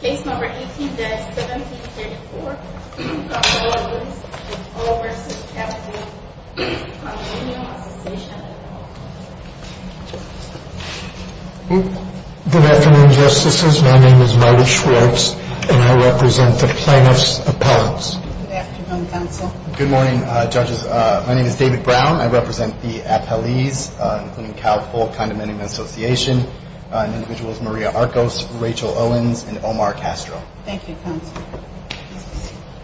Case number 18-17-34, Cal-Ful Police v. Cal-Ful Condominium Association Good afternoon, Justices. My name is Marty Schwartz, and I represent the plaintiffs' appellants. Good afternoon, Counsel. Good morning, Judges. My name is David Brown. I represent the appellees, including Cal-Ful Condominium Association, and individuals Maria Arcos, Rachel Owens, and Omar Castro. Thank you, Counsel.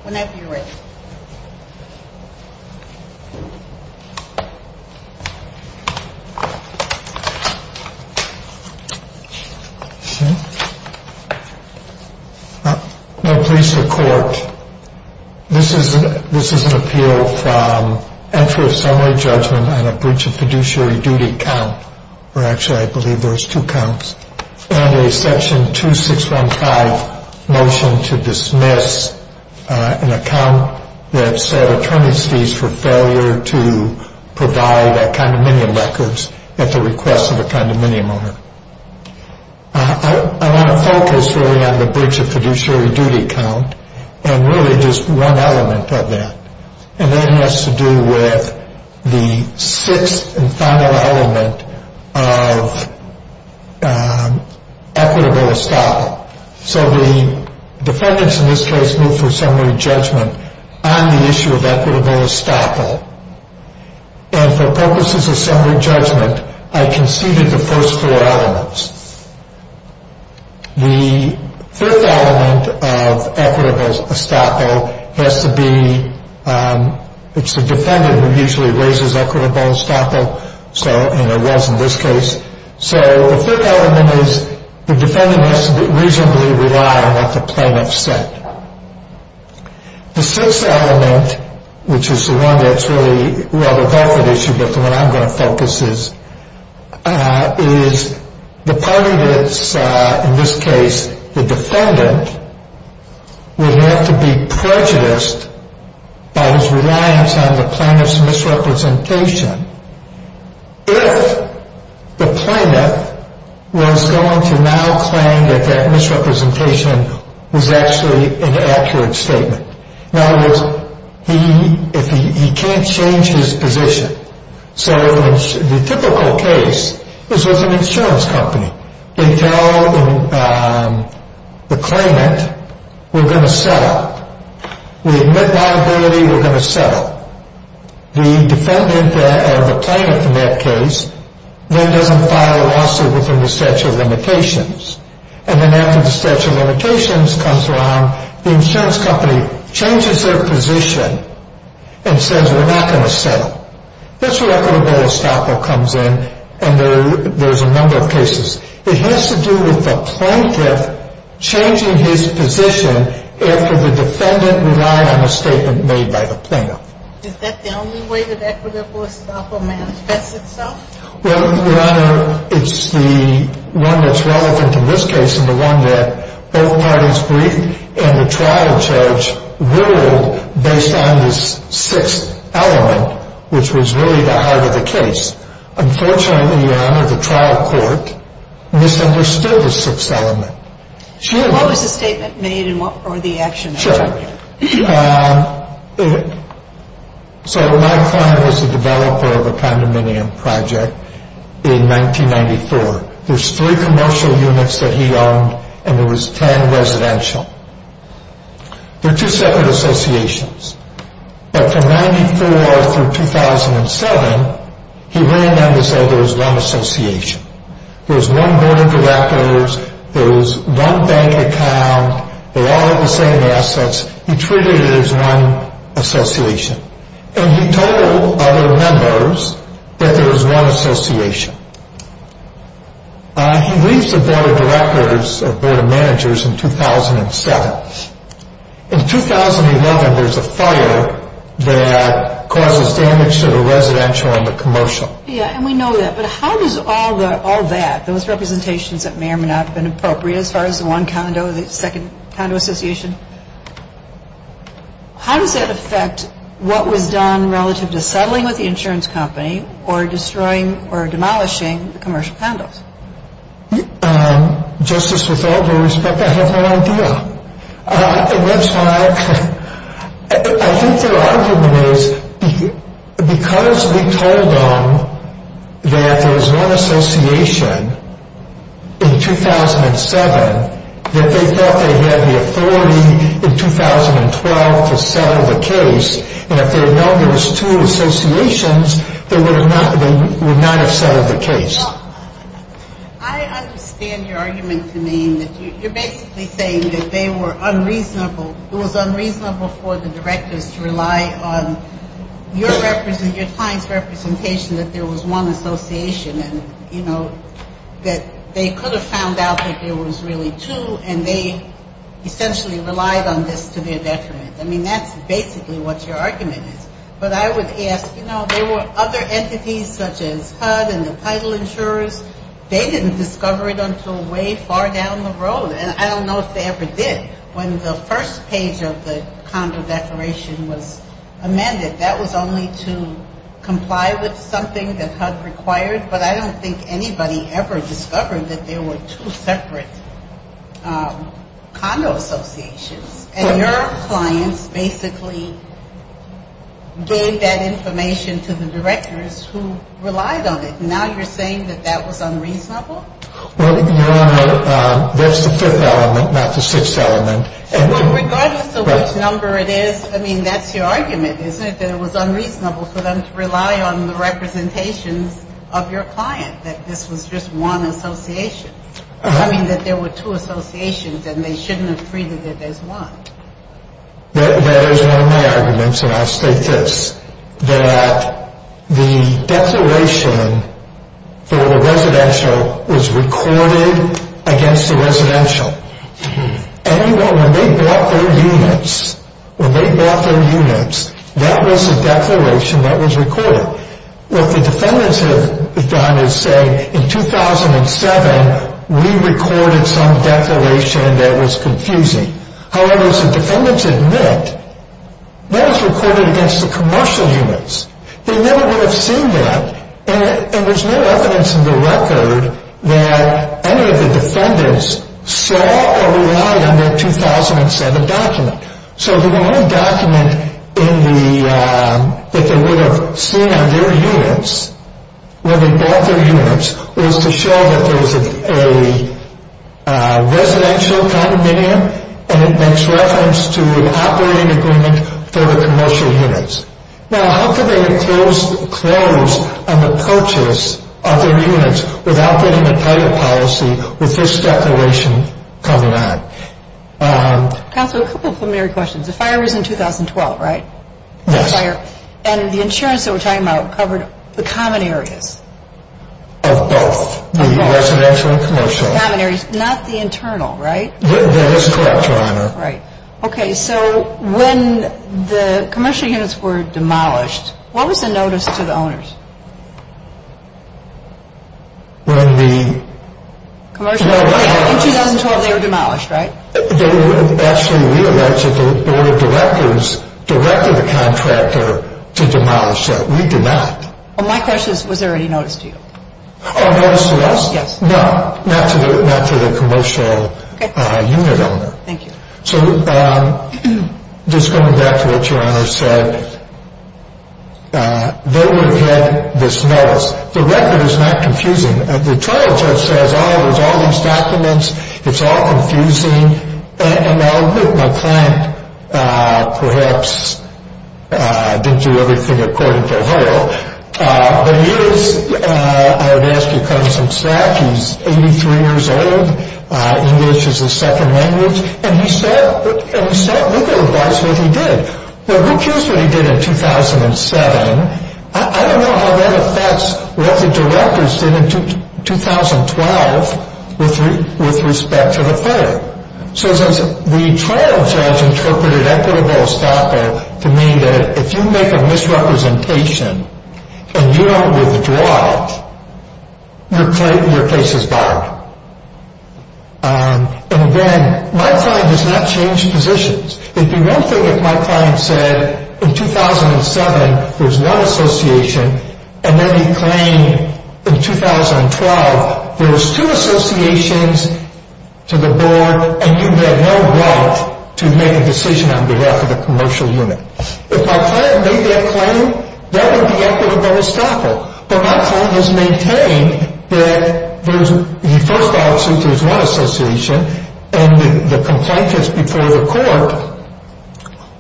Whenever you're ready. Now, please record. This is an appeal from entry of summary judgment on a breach of fiduciary duty count, or actually I believe there's two counts, and a section 2615 motion to dismiss an account that set attorneys fees for failure to provide condominium records at the request of a condominium owner. I want to focus really on the breach of fiduciary duty count, and really just one element of that. And that has to do with the sixth and final element of equitable estoppel. So the defendants in this case moved for summary judgment on the issue of equitable estoppel. And for purposes of summary judgment, I conceded the first four elements. The third element of equitable estoppel has to be, it's the defendant who usually raises equitable estoppel, and it was in this case. So the third element is the defendant has to reasonably rely on what the plaintiff said. The sixth element, which is the one that's really rather buffered issue, but the one I'm going to focus is, is the part of this, in this case, the defendant would have to be prejudiced by his reliance on the plaintiff's misrepresentation. If the plaintiff was going to now claim that that misrepresentation was actually an accurate statement. In other words, he can't change his position. So in the typical case, this was an insurance company. They tell the claimant, we're going to settle. We admit liability, we're going to settle. The defendant, or the plaintiff in that case, then doesn't file a lawsuit within the statute of limitations. And then after the statute of limitations comes around, the insurance company changes their position and says we're not going to settle. That's where equitable estoppel comes in, and there's a number of cases. It has to do with the plaintiff changing his position after the defendant relied on a statement made by the plaintiff. Is that the only way that equitable estoppel manifests itself? Well, Your Honor, it's the one that's relevant in this case and the one that both parties briefed, and the trial judge ruled based on this sixth element, which was really the heart of the case. Unfortunately, Your Honor, the trial court misunderstood the sixth element. What was the statement made or the action? So my client was the developer of a condominium project in 1994. There's three commercial units that he owned, and there was ten residential. They're two separate associations. But from 1994 through 2007, he ran them to say there was one association. There was one board of directors, there was one bank account, they all had the same assets. He treated it as one association. And he told other members that there was one association. He leaves the board of directors or board of managers in 2007. In 2011, there's a fire that causes damage to the residential and the commercial. Yeah, and we know that. But how does all that, those representations that may or may not have been appropriate as far as the one condo, the second condo association, how does that affect what was done relative to settling with the insurance company or destroying or demolishing the commercial condos? Justice, with all due respect, I have no idea. And that's why I think their argument is because we told them that there was one association in 2007, that they thought they had the authority in 2012 to settle the case. And if they had known there was two associations, they would not have settled the case. Well, I understand your argument to me that you're basically saying that they were unreasonable, it was unreasonable for the directors to rely on your client's representation that there was one association. And, you know, that they could have found out that there was really two and they essentially relied on this to their detriment. I mean, that's basically what your argument is. But I would ask, you know, there were other entities such as HUD and the title insurers. They didn't discover it until way far down the road. And I don't know if they ever did. When the first page of the condo declaration was amended, that was only to comply with something that HUD required. But I don't think anybody ever discovered that there were two separate condo associations. And your clients basically gave that information to the directors who relied on it. Now you're saying that that was unreasonable? Well, Your Honor, there's the fifth element, not the sixth element. Well, regardless of which number it is, I mean, that's your argument, isn't it? That it was unreasonable for them to rely on the representations of your client, that this was just one association. I mean, that there were two associations and they shouldn't have treated it as one. That is one of my arguments, and I'll state this, that the declaration for the residential was recorded against the residential. Anyone, when they bought their units, when they bought their units, that was a declaration that was recorded. What the defendants have done is say, in 2007 we recorded some declaration that was confusing. However, as the defendants admit, that was recorded against the commercial units. They never would have seen that, and there's no evidence in the record that any of the defendants saw or relied on that 2007 document. So, the only document that they would have seen on their units, when they bought their units, was to show that there was a residential condominium, and it makes reference to an operating agreement for the commercial units. Now, how could they close an approach of their units without getting a title policy with this declaration coming out? Counselor, a couple of preliminary questions. The fire was in 2012, right? Yes. And the insurance that we're talking about covered the common areas? Of both. Of both. The residential and commercial. Common areas, not the internal, right? That is correct, Your Honor. Right. Okay, so when the commercial units were demolished, what was the notice to the owners? When the... Commercial units, in 2012, they were demolished, right? They would actually realize that the board of directors directed the contractor to demolish them. We did not. Well, my question is, was there any notice to you? Notice to us? Yes. No, not to the commercial unit owner. Okay, thank you. So, just going back to what Your Honor said, they would have had this notice. The record is not confusing. The trial judge says, oh, there's all these documents. It's all confusing. And I'll admit my client perhaps didn't do everything according to her. But he is, I would ask you to cut him some slack. He's 83 years old. English is his second language. And he said, look at what he did. Well, who cares what he did in 2007? I don't know how that affects what the directors did in 2012 with respect to the player. So the trial judge interpreted equitable estoppel to mean that if you make a misrepresentation and you don't withdraw it, your case is barred. And again, my client does not change positions. There'd be one thing if my client said in 2007 there was one association and then he claimed in 2012 there was two associations to the board and you had no right to make a decision on behalf of the commercial unit. If my client made that claim, that would be equitable estoppel. But my client has maintained that the first option, there's one association, and the complaint that's before the court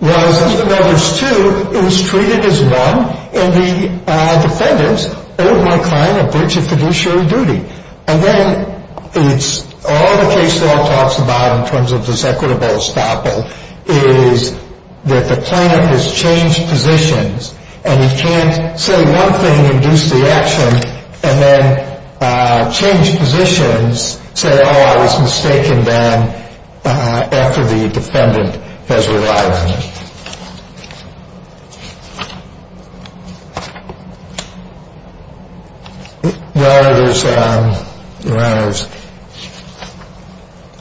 was, even though there's two, it was treated as one, and the defendants owed my client a bridge of fiduciary duty. And then all the case law talks about in terms of this equitable estoppel is that the client has changed positions, and he can't say one thing and induce the action, and then change positions, say, oh, I was mistaken then after the defendant has relied on me. Well, there's,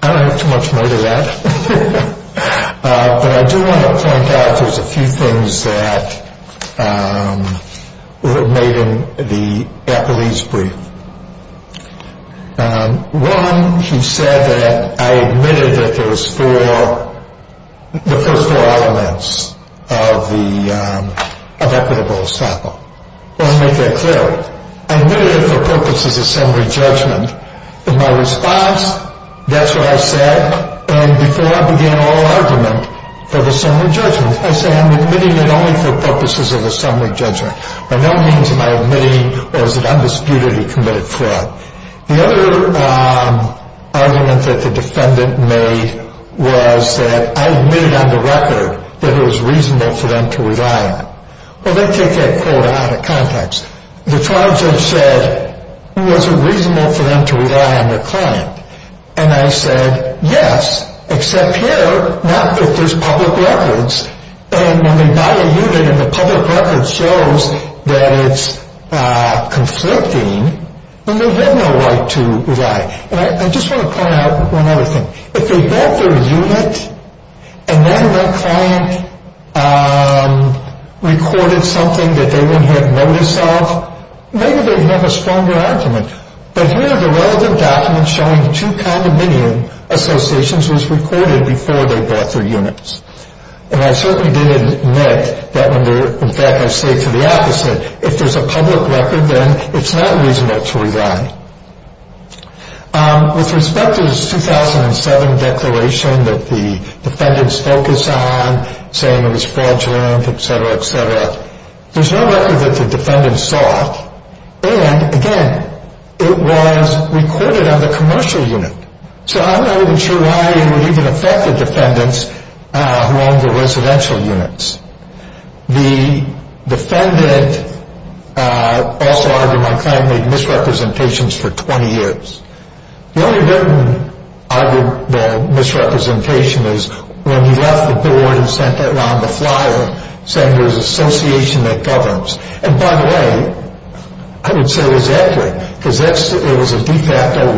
I don't have too much more to that. But I do want to point out there's a few things that were made in the appellee's brief. One, he said that I admitted that there was four, the first four elements of equitable estoppel. I want to make that clear. I admitted it for purposes of summary judgment. In my response, that's what I said. And before I began all argument for the summary judgment, I say I'm admitting it only for purposes of the summary judgment. By no means am I admitting it was an undisputedly committed fraud. The other argument that the defendant made was that I admitted on the record that it was reasonable for them to rely on me. Well, they take that quote out of context. The charge I've said was it reasonable for them to rely on their client. And I said, yes, except here not that there's public records. And when they buy a unit and the public record shows that it's conflicting, then they have no right to rely. And I just want to point out one other thing. If they bought their unit and then their client recorded something that they wouldn't have notice of, maybe they'd have a stronger argument. But here the relevant document showing two condominium associations was recorded before they bought their units. And I certainly didn't admit that when they're, in fact, I say to the opposite. If there's a public record, then it's not reasonable to rely. With respect to the 2007 declaration that the defendants focus on, saying it was fraudulent, et cetera, et cetera, there's no record that the defendant saw. And, again, it was recorded on the commercial unit. So I'm not even sure why it would even affect the defendants who owned the residential units. The defendant also argued my client made misrepresentations for 20 years. The only written misrepresentation is when he left the board and sent it on the flyer, saying it was an association that governs. And, by the way, I would say it was accurate because it was a de facto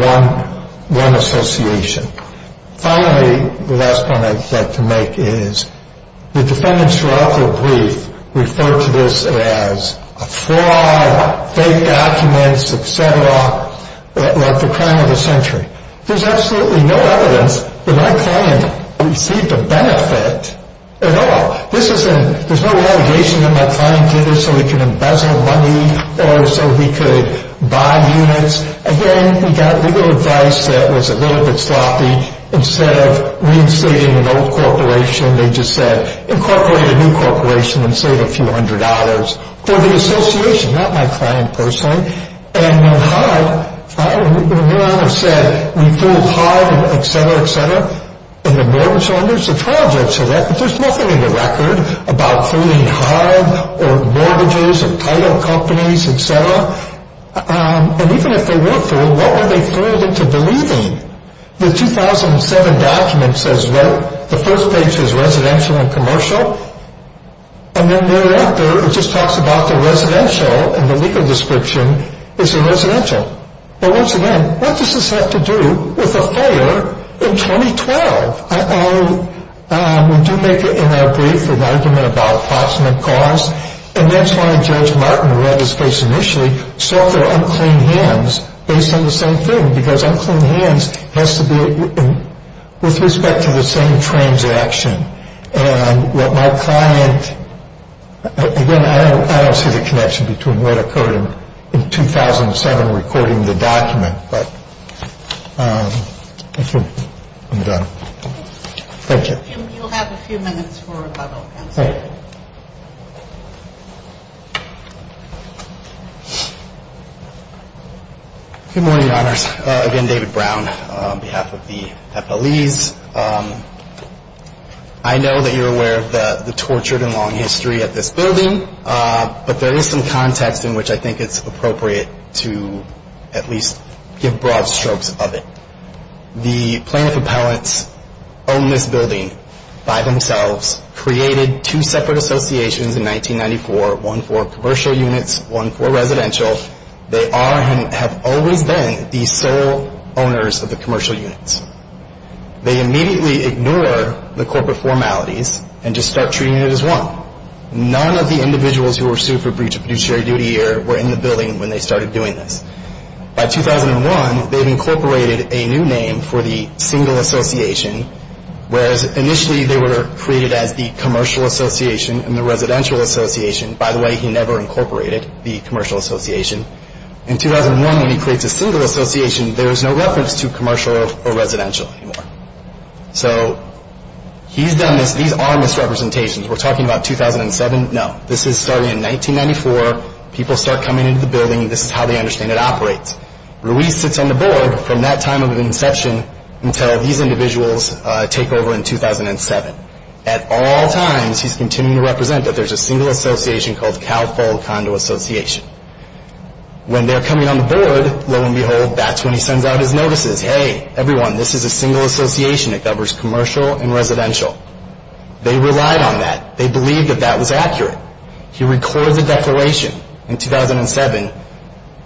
one association. Finally, the last point I'd like to make is the defendants throughout their brief referred to this as a fraud, fake documents, et cetera, like the crime of the century. There's absolutely no evidence that my client received a benefit at all. There's no allegation that my client did this so he could embezzle money or so he could buy units. Again, we got legal advice that it was a little bit sloppy. Instead of reinstating an old corporation, they just said incorporate a new corporation and save a few hundred dollars for the association, not my client personally. And when we're on a set, we fooled hard, et cetera, et cetera. And the mortgage holders, the trial judge said that, but there's nothing in the record about fooling hard or mortgages or title companies, et cetera. And even if they were fooled, what were they fooled into believing? The 2007 document says that the first page is residential and commercial, and then later it just talks about the residential and the legal description is a residential. But once again, what does this have to do with a fire in 2012? We do make it in our brief for the argument about approximate cause. And that's why Judge Martin read his case initially, saw their unclean hands based on the same thing because unclean hands has to be with respect to the same transaction. And what my client, again, I don't see the connection between what occurred in 2007 recording the document. But I'm done. Thank you. You'll have a few minutes for rebuttal. Good morning, Your Honors. Again, David Brown on behalf of the FLEs. I know that you're aware of the tortured and long history at this building, but there is some context in which I think it's appropriate to at least give broad strokes of it. The plaintiff appellants own this building by themselves, created two separate associations in 1994, one for commercial units, one for residential. They are and have always been the sole owners of the commercial units. They immediately ignore the corporate formalities and just start treating it as one. None of the individuals who were sued for breach of fiduciary duty were in the building when they started doing this. By 2001, they've incorporated a new name for the single association, whereas initially they were created as the commercial association and the residential association. By the way, he never incorporated the commercial association. In 2001, when he creates a single association, there is no reference to commercial or residential anymore. So he's done this. These are misrepresentations. We're talking about 2007? No. This is starting in 1994. People start coming into the building. This is how they understand it operates. Ruiz sits on the board from that time of inception until these individuals take over in 2007. At all times, he's continuing to represent that there's a single association called Calpol Condo Association. When they're coming on the board, lo and behold, that's when he sends out his notices. Hey, everyone, this is a single association. It covers commercial and residential. They relied on that. They believed that that was accurate. He records a declaration in 2007.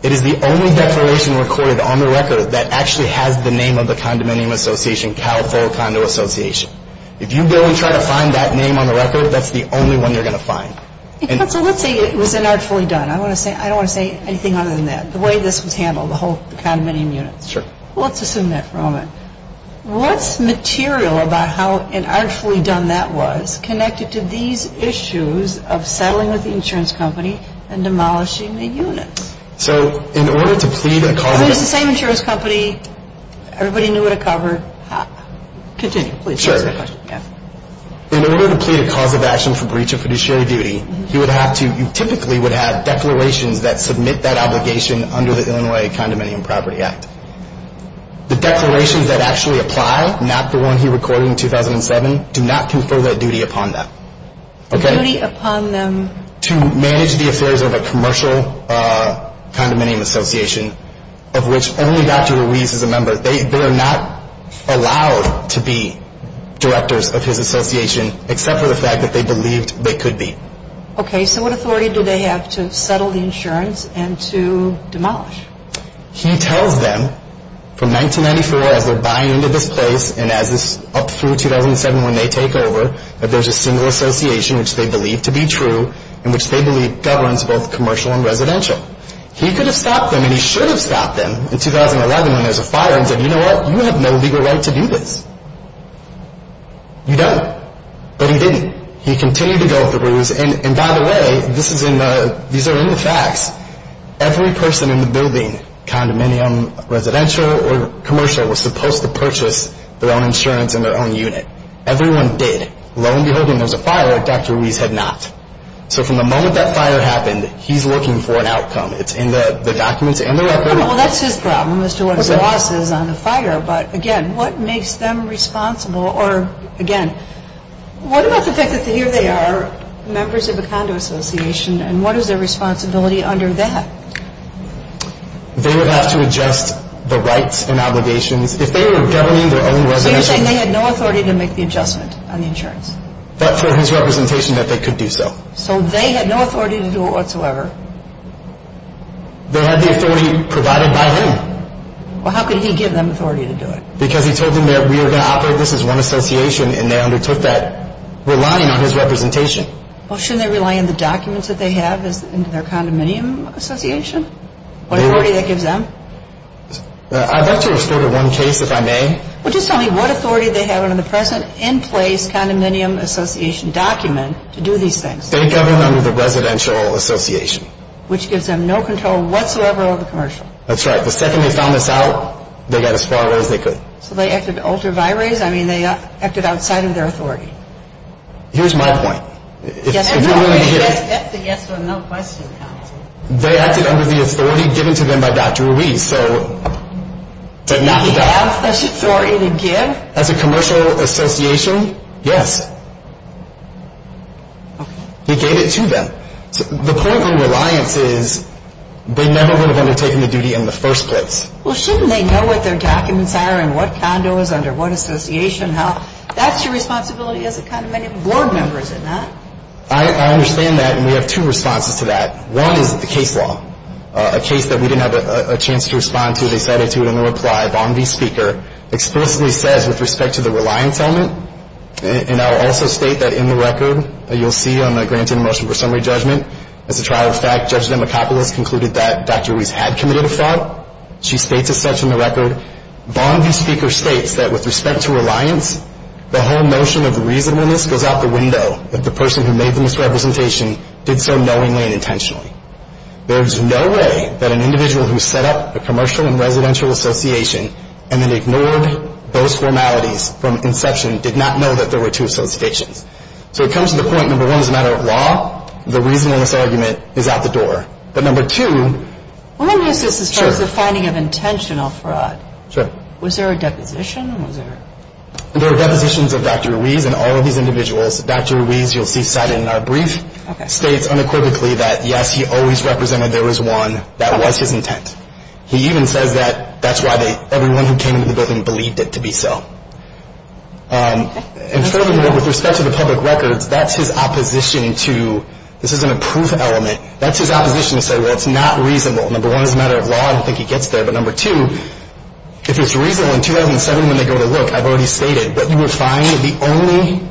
It is the only declaration recorded on the record that actually has the name of the condominium association, Calpol Condo Association. If you go and try to find that name on the record, that's the only one you're going to find. Counsel, let's say it was inartfully done. I don't want to say anything other than that, the way this was handled, the whole condominium unit. Sure. Well, let's assume that for a moment. What's material about how inartfully done that was connected to these issues of settling with the insurance company and demolishing the units? So in order to plead a cause of action... It was the same insurance company. Everybody knew what it covered. Continue, please. Sure. In order to plead a cause of action for breach of fiduciary duty, you typically would have declarations that submit that obligation under the Illinois Condominium Property Act. The declarations that actually apply, not the one he recorded in 2007, do not confer that duty upon them. Duty upon them? To manage the affairs of a commercial condominium association, of which only Dr. Ruiz is a member. They are not allowed to be directors of his association, except for the fact that they believed they could be. Okay, so what authority do they have to settle the insurance and to demolish? He tells them, from 1994 as they're buying into this place and up through 2007 when they take over, that there's a single association which they believe to be true and which they believe governs both commercial and residential. He could have stopped them, and he should have stopped them, in 2011 when there was a fire and said, you know what, you have no legal right to do this. You don't. But he didn't. He continued to go with the Ruiz. And by the way, these are in the facts. Every person in the building, condominium, residential, or commercial, was supposed to purchase their own insurance and their own unit. Everyone did. Lo and behold, when there was a fire, Dr. Ruiz had not. So from the moment that fire happened, he's looking for an outcome. It's in the documents and the record. Well, that's his problem as to what his loss is on the fire. But again, what makes them responsible? Or, again, what about the fact that here they are, members of a condo association, and what is their responsibility under that? They would have to adjust the rights and obligations. If they were governing their own residential. Are you saying they had no authority to make the adjustment on the insurance? But for his representation that they could do so. So they had no authority to do it whatsoever. They had the authority provided by him. Well, how could he give them authority to do it? Because he told them that we are going to operate this as one association, and they undertook that, relying on his representation. Well, shouldn't they rely on the documents that they have in their condominium association? What authority that gives them? I'd like to restore to one case, if I may. Well, just tell me what authority they have under the present in-place condominium association document to do these things. They govern under the residential association. Which gives them no control whatsoever over the commercial. That's right. The second they found this out, they got as far away as they could. So they acted ultra vires? I mean, they acted outside of their authority. Here's my point. That's a yes or no question, counsel. They acted under the authority given to them by Dr. Ruiz. Did he have such authority to give? As a commercial association, yes. Okay. He gave it to them. The point of reliance is they never would have undertaken the duty in the first place. Well, shouldn't they know what their documents are and what condos, under what association, how? That's your responsibility as a condominium board member, isn't it? I understand that, and we have two responses to that. One is the case law. A case that we didn't have a chance to respond to, they cited to it in the reply. Vaughn V. Speaker explicitly says with respect to the reliance element, and I will also state that in the record, you'll see on the granted motion for summary judgment, as a trial of fact, Judge Demacopoulos concluded that Dr. Ruiz had committed a fraud. She states as such in the record, Vaughn V. Speaker states that with respect to reliance, the whole notion of reasonableness goes out the window that the person who made the misrepresentation did so knowingly and intentionally. There is no way that an individual who set up a commercial and residential association and then ignored those formalities from inception did not know that there were two associations. So it comes to the point, number one, as a matter of law, the reasonableness argument is out the door. But number two, what is this as far as the finding of intentional fraud? Sure. Was there a deposition? There are depositions of Dr. Ruiz and all of these individuals. Dr. Ruiz, you'll see cited in our brief, states unequivocally that, yes, he always represented there was one that was his intent. He even says that that's why everyone who came to the building believed it to be so. And furthermore, with respect to the public records, that's his opposition to, this isn't a proof element, that's his opposition to say, well, it's not reasonable. Number one, as a matter of law, I don't think he gets there. But number two, if it's reasonable, in 2007 when they go to look, I've already stated, what you would find, the only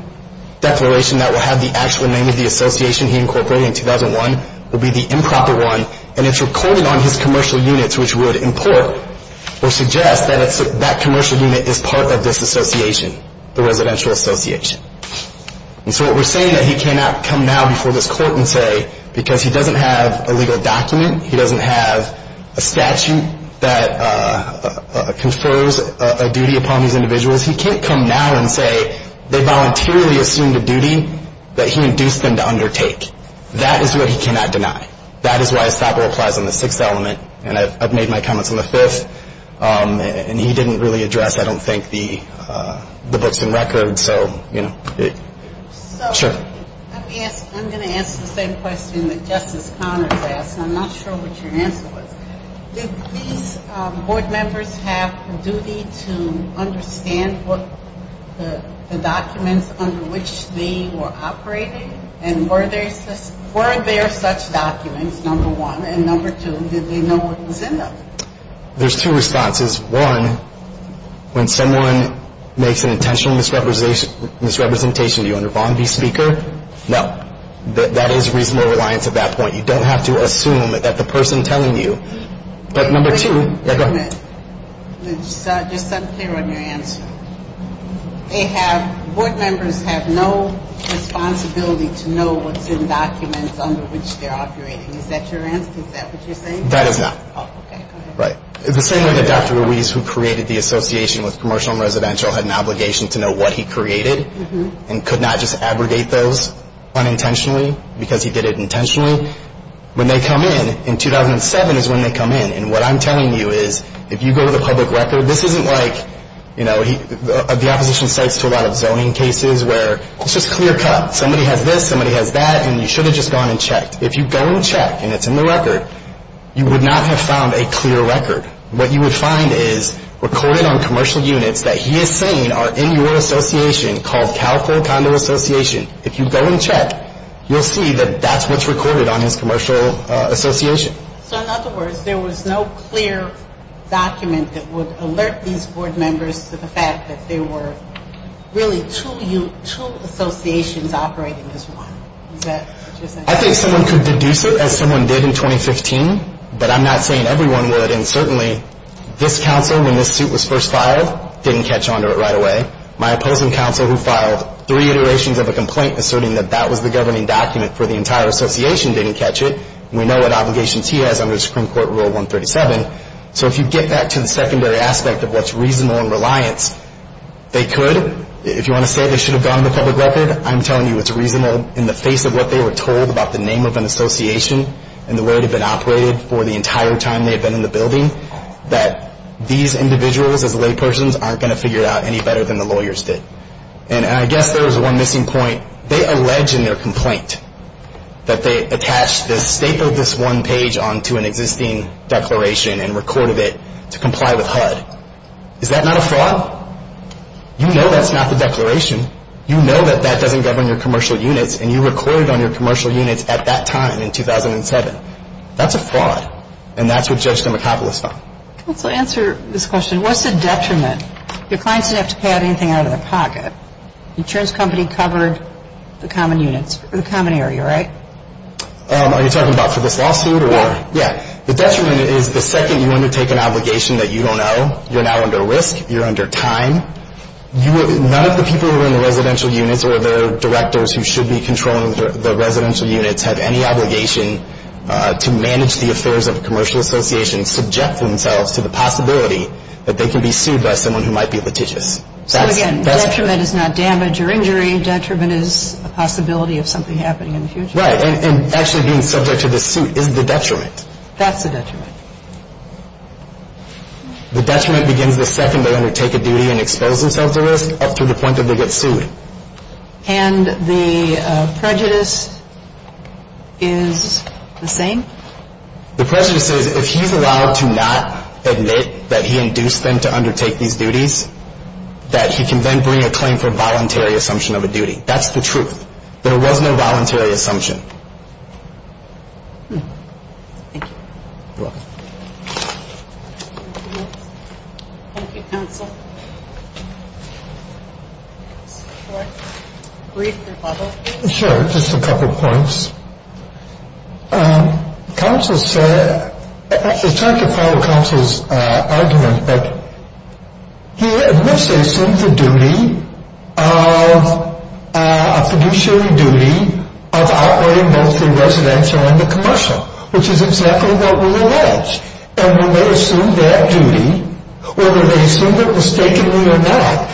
declaration that will have the actual name of the association he incorporated in 2001 would be the improper one, and it's recorded on his commercial units, which would import or suggest that that commercial unit is part of this association, the residential association. And so what we're saying is that he cannot come now before this court and say, because he doesn't have a legal document, he doesn't have a statute that confers a duty upon these individuals, he can't come now and say they voluntarily assumed a duty that he induced them to undertake. That is what he cannot deny. That is why his thopper applies on the sixth element, and I've made my comments on the fifth, and he didn't really address, I don't think, the books and records. And so, you know, sure. I'm going to ask the same question that Justice Connors asked, and I'm not sure what your answer was. Did these board members have a duty to understand what the documents under which they were operating, and were there such documents, number one? And number two, did they know what was in them? There's two responses. One, when someone makes an intentional misrepresentation, do you underpun the speaker? No. That is reasonable reliance at that point. You don't have to assume that the person telling you. But number two – Wait a minute. Just so I'm clear on your answer. They have – board members have no responsibility to know what's in documents under which they're operating. Is that your answer? Is that what you're saying? That is not. Oh, okay. Right. The same way that Dr. Ruiz, who created the Association with Commercial and Residential, had an obligation to know what he created, and could not just abrogate those unintentionally, because he did it intentionally, when they come in, in 2007 is when they come in, and what I'm telling you is, if you go to the public record, this isn't like, you know, the opposition states to a lot of zoning cases where it's just clear cut. Somebody has this, somebody has that, and you should have just gone and checked. If you go and check, and it's in the record, you would not have found a clear record. What you would find is recorded on commercial units that he is saying are in your association, called California Condo Association. If you go and check, you'll see that that's what's recorded on his commercial association. So, in other words, there was no clear document that would alert these board members to the fact that there were really two associations operating as one. Is that what you're saying? I think someone could deduce it as someone did in 2015, but I'm not saying everyone would, and certainly this counsel, when this suit was first filed, didn't catch onto it right away. My opposing counsel, who filed three iterations of a complaint asserting that that was the governing document for the entire association, didn't catch it, and we know what obligations he has under Supreme Court Rule 137. So, if you get back to the secondary aspect of what's reasonable and reliant, they could. If you want to say they should have gone to the public record, I'm telling you it's reasonable in the face of what they were told about the name of an association and the way it had been operated for the entire time they had been in the building, that these individuals as laypersons aren't going to figure it out any better than the lawyers did. And I guess there was one missing point. They allege in their complaint that they attached this, stapled this one page onto an existing declaration and recorded it to comply with HUD. You know that's not the declaration. You know that that doesn't govern your commercial units, and you recorded on your commercial units at that time in 2007. That's a fraud, and that's what Judge Dimacopoulos found. Counsel, answer this question. What's the detriment? Your clients didn't have to pay out anything out of their pocket. The insurance company covered the common units, the common area, right? Are you talking about for this lawsuit or? Yeah. Yeah. The detriment is the second you undertake an obligation that you don't owe, you're now under risk, you're under time. None of the people who are in the residential units or the directors who should be controlling the residential units have any obligation to manage the affairs of a commercial association, subject themselves to the possibility that they can be sued by someone who might be litigious. So again, detriment is not damage or injury. Detriment is a possibility of something happening in the future. Right. That's the detriment. The detriment begins the second they undertake a duty and expose themselves to risk up to the point that they get sued. And the prejudice is the same? The prejudice is if he's allowed to not admit that he induced them to undertake these duties, that he can then bring a claim for voluntary assumption of a duty. That's the truth. There was no voluntary assumption. Thank you. You're welcome. Thank you. Thank you, counsel. Mr. McCoy, brief rebuttal. Sure, just a couple points. Counsel said, it's hard to follow counsel's argument, but he admits they assumed the duty of, a fiduciary duty, of outweighing both the residential and the commercial, which is exactly what we allege. And when they assumed that duty, whether they assumed it mistakenly or not,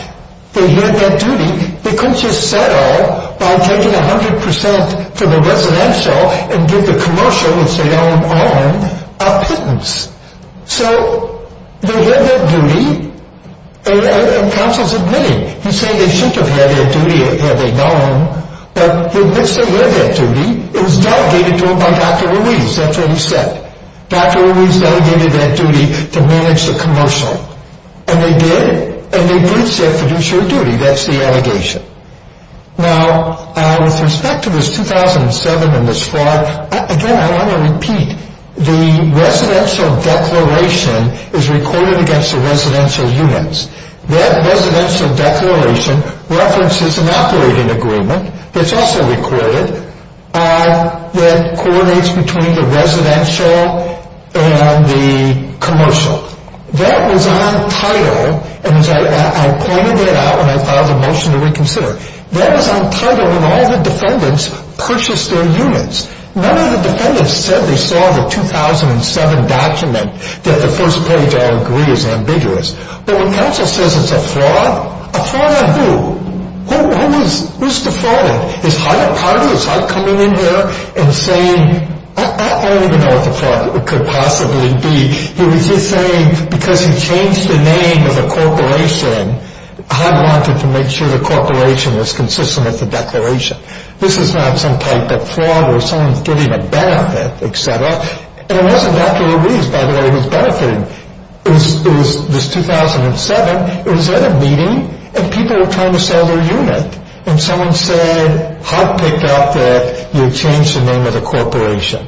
they had that duty, they couldn't just settle by taking 100% for the residential and give the commercial, which they own, a pittance. So they had that duty, and counsel's admitting, he's saying they shouldn't have had that duty had they known, but in which they lived that duty, it was delegated to them by Dr. Ruiz. That's what he said. Dr. Ruiz delegated that duty to manage the commercial. And they did, and they breached that fiduciary duty. That's the allegation. Now, with respect to this 2007 and this fraud, again, I want to repeat, the residential declaration is recorded against the residential units. That residential declaration references an operating agreement that's also recorded that coordinates between the residential and the commercial. That was on title, and I pointed that out when I filed a motion to reconsider. That was on title when all the defendants purchased their units. None of the defendants said they saw the 2007 document that the first page, I agree, is ambiguous. But when counsel says it's a fraud, a fraud on who? Who's defrauding? Is HUD a part of it? Is HUD coming in here and saying, I don't even know what the fraud could possibly be. He was just saying because he changed the name of the corporation, HUD wanted to make sure the corporation was consistent with the declaration. This is not some type of fraud where someone's giving a benefit, et cetera. And it wasn't Dr. Ruiz, by the way, who was benefiting. It was 2007. It was at a meeting, and people were trying to sell their unit. And someone said HUD picked up that you changed the name of the corporation.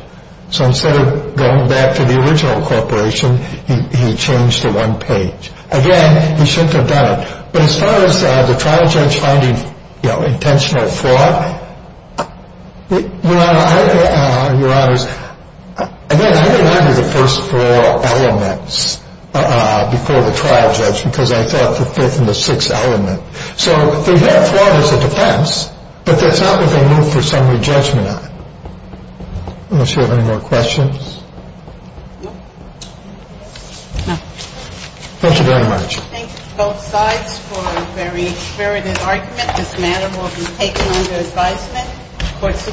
So instead of going back to the original corporation, he changed the one page. Again, he shouldn't have done it. But as far as the trial judge finding intentional fraud, Your Honor, I didn't argue the first four elements before the trial judge because I thought the fifth and the sixth element. So fraud is a defense, but that's not what they move for summary judgment on. Unless you have any more questions. Thank you very much. Thank you to both sides for a very experimented argument. This matter will be taken under advisement.